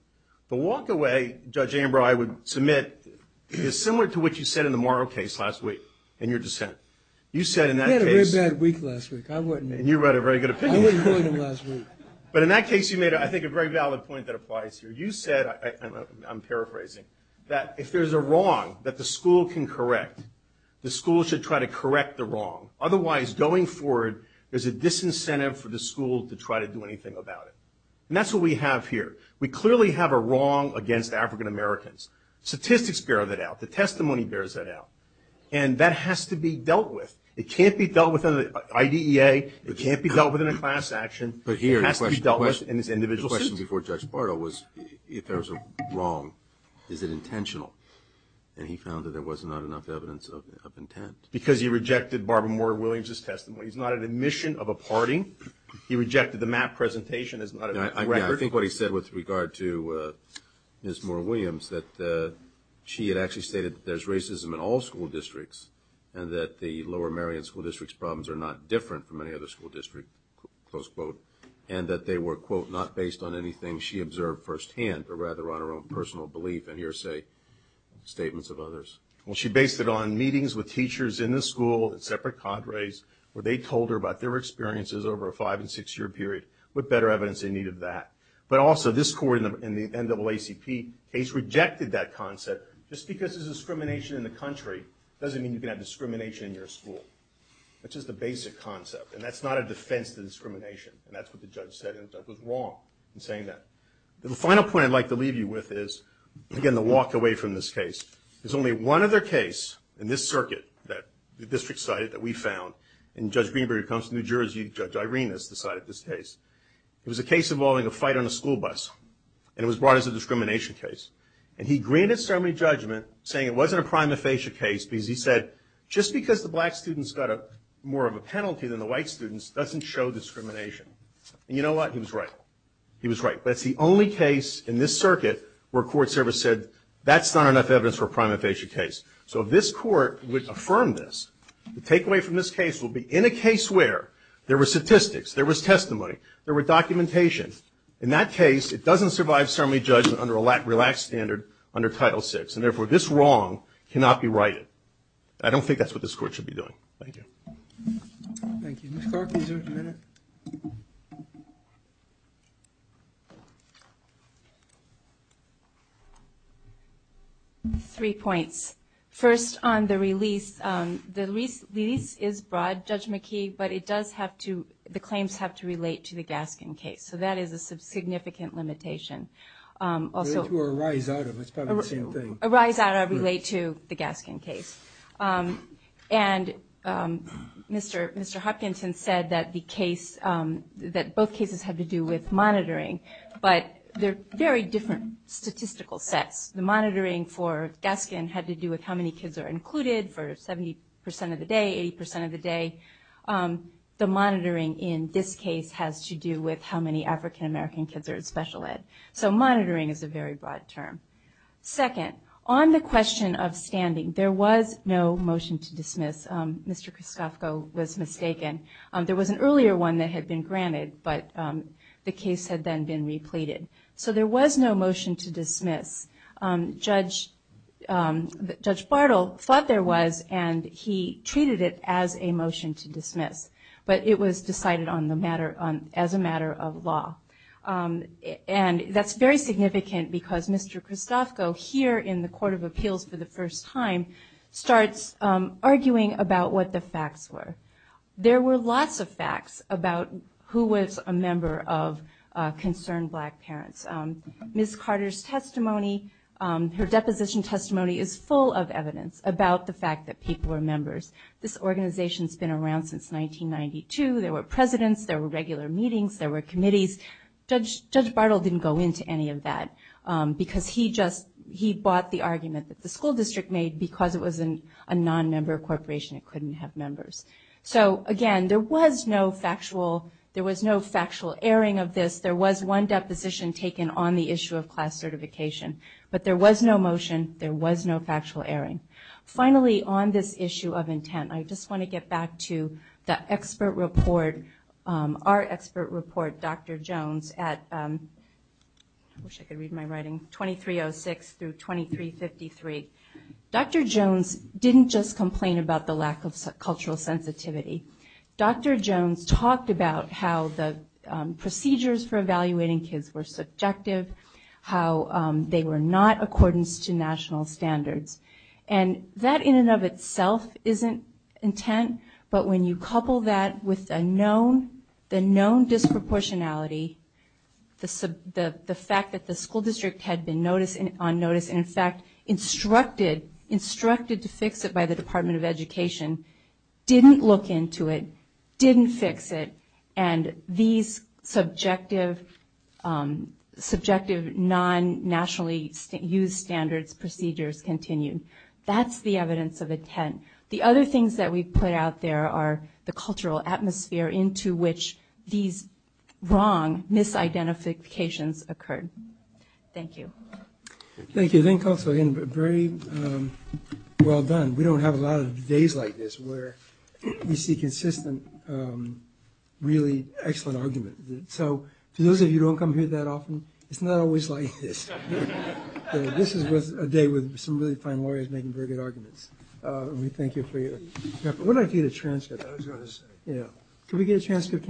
The walk away, Judge Ambrose, I would submit is similar to what you said in the Mara case last week in your dissent. You said in that case... I had a very bad week last week. And you wrote a very good opinion. But in that case you made, I think, a very valid point that applies here. You said, I'm paraphrasing, that if there's a wrong that the school can correct, the school should try to correct the wrong. Otherwise, going forward, there's a disincentive for the school to try to do anything about it. And that's what we have here. We clearly have a wrong against African-Americans. Statistics bear that out. The testimony bears that out. And that has to be dealt with. It can't be dealt with under the IDEA. It can't be dealt with in a class action. It has to be dealt with in this individual system. But here, the question before Judge Bardo was, if there's a wrong, is it intentional? And he found that there was not enough evidence of intent. Because he rejected Barbara Moore Williams' testimony. He's not an admission of a party. He rejected the map presentation. I think what he said with regard to Ms. Moore Williams, that she had actually stated that there's racism in all school districts. And that the Lower Marion School District's problems are not different from any other school district. Close quote. And that they were, quote, not based on anything she observed firsthand, but rather on her own personal belief and hearsay statements of others. Well, she based it on meetings with teachers in the school and separate cadres where they told her about their experiences over a five and six year period. With better evidence in need of that. But also, this court in the NAACP case rejected that concept. Just because there's discrimination in the country doesn't mean you can have discrimination in your school. That's just a basic concept. And that's not a defense to discrimination. And that's what the judge said. And the judge was wrong in saying that. The final point I'd like to leave you with is, again, the walk away from this case. There's only one other case in this circuit that the district cited that we found. And Judge Greenberg comes from New Jersey. Judge Irenas decided this case. It was a case involving a fight on a school bus. And it was brought as a discrimination case. And he granted ceremony judgment saying it wasn't a prima facie case because he said, just because the black students got more of a penalty than the white students doesn't show discrimination. And you know what? He was right. He was right. That's the only case in this circuit where court service said, that's not enough evidence for a prima facie case. So if this court would affirm this, the takeaway from this case would be, in a case where there was statistics, there was testimony, there was documentation, in that case, it doesn't survive ceremony judgment under a relaxed standard under Title VI. And therefore, this wrong cannot be righted. I don't think that's what this court should be doing. Thank you. Thank you. Ms. Clark, is there a minute? Three points. First, on the release, the release is broad, Judge McKee, but it does have to, the claims have to relate to the Gaskin case. So that is a significant limitation. Arise out of, that's probably the same thing. Arise out of, relate to, the Gaskin case. And Mr. Hopkinson said that the case, that both cases have to do with monitoring, but they're very different statistical sets. The monitoring for Gaskin had to do with how many kids are included for 70% of the day, 80% of the day. The monitoring in this case has to do with how many African-American kids are in special ed. So monitoring is a very broad term. Second, on the question of standing, there was no motion to dismiss. Mr. Kraskovko was mistaken. There was an earlier one that had been granted, but the case had then been repleted. So there was no motion to dismiss. Judge Bartle thought there was, and he treated it as a motion to dismiss. But it was decided as a matter of law. And that's very significant because Mr. Kraskovko here in the Court of Appeals for the first time starts arguing about what the facts were. There were lots of members of Concerned Black Parents. Ms. Carter's testimony, her deposition testimony is full of evidence about the fact that people were members. This organization's been around since 1992. There were presidents, there were regular meetings, there were committees. Judge Bartle didn't go into any of that because he bought the argument that the school district made because it was a non-member corporation. It couldn't have members. So again, there was no factual airing of this. There was one deposition taken on the issue of class certification. But there was no motion, there was no factual airing. Finally, on this issue of intent, I just want to get back to the expert report, our expert report, Dr. Jones at 2306 through 2353. Dr. Jones didn't just complain about the lack of cultural sensitivity. Dr. Jones talked about how the procedures for evaluating kids were subjective, how they were not accordance to national standards. And that in and of itself isn't intent, but when you couple that with the known disproportionality, the fact that the school district had been on notice and in fact instructed to fix it by the Department of Education didn't look into it, didn't fix it, and these subjective non-nationally used standards procedures continued. That's the evidence of intent. The other things that we put out there are the cultural atmosphere into which these wrong misidentifications occurred. Thank you. Thank you. I think also very well done. We don't have a lot of days like this where we see consistent really excellent argument. So to those of you who don't come here that often, it's not always like this. This was a day with some really fine lawyers making very good arguments. We thank you for your effort. Could we get a transcript?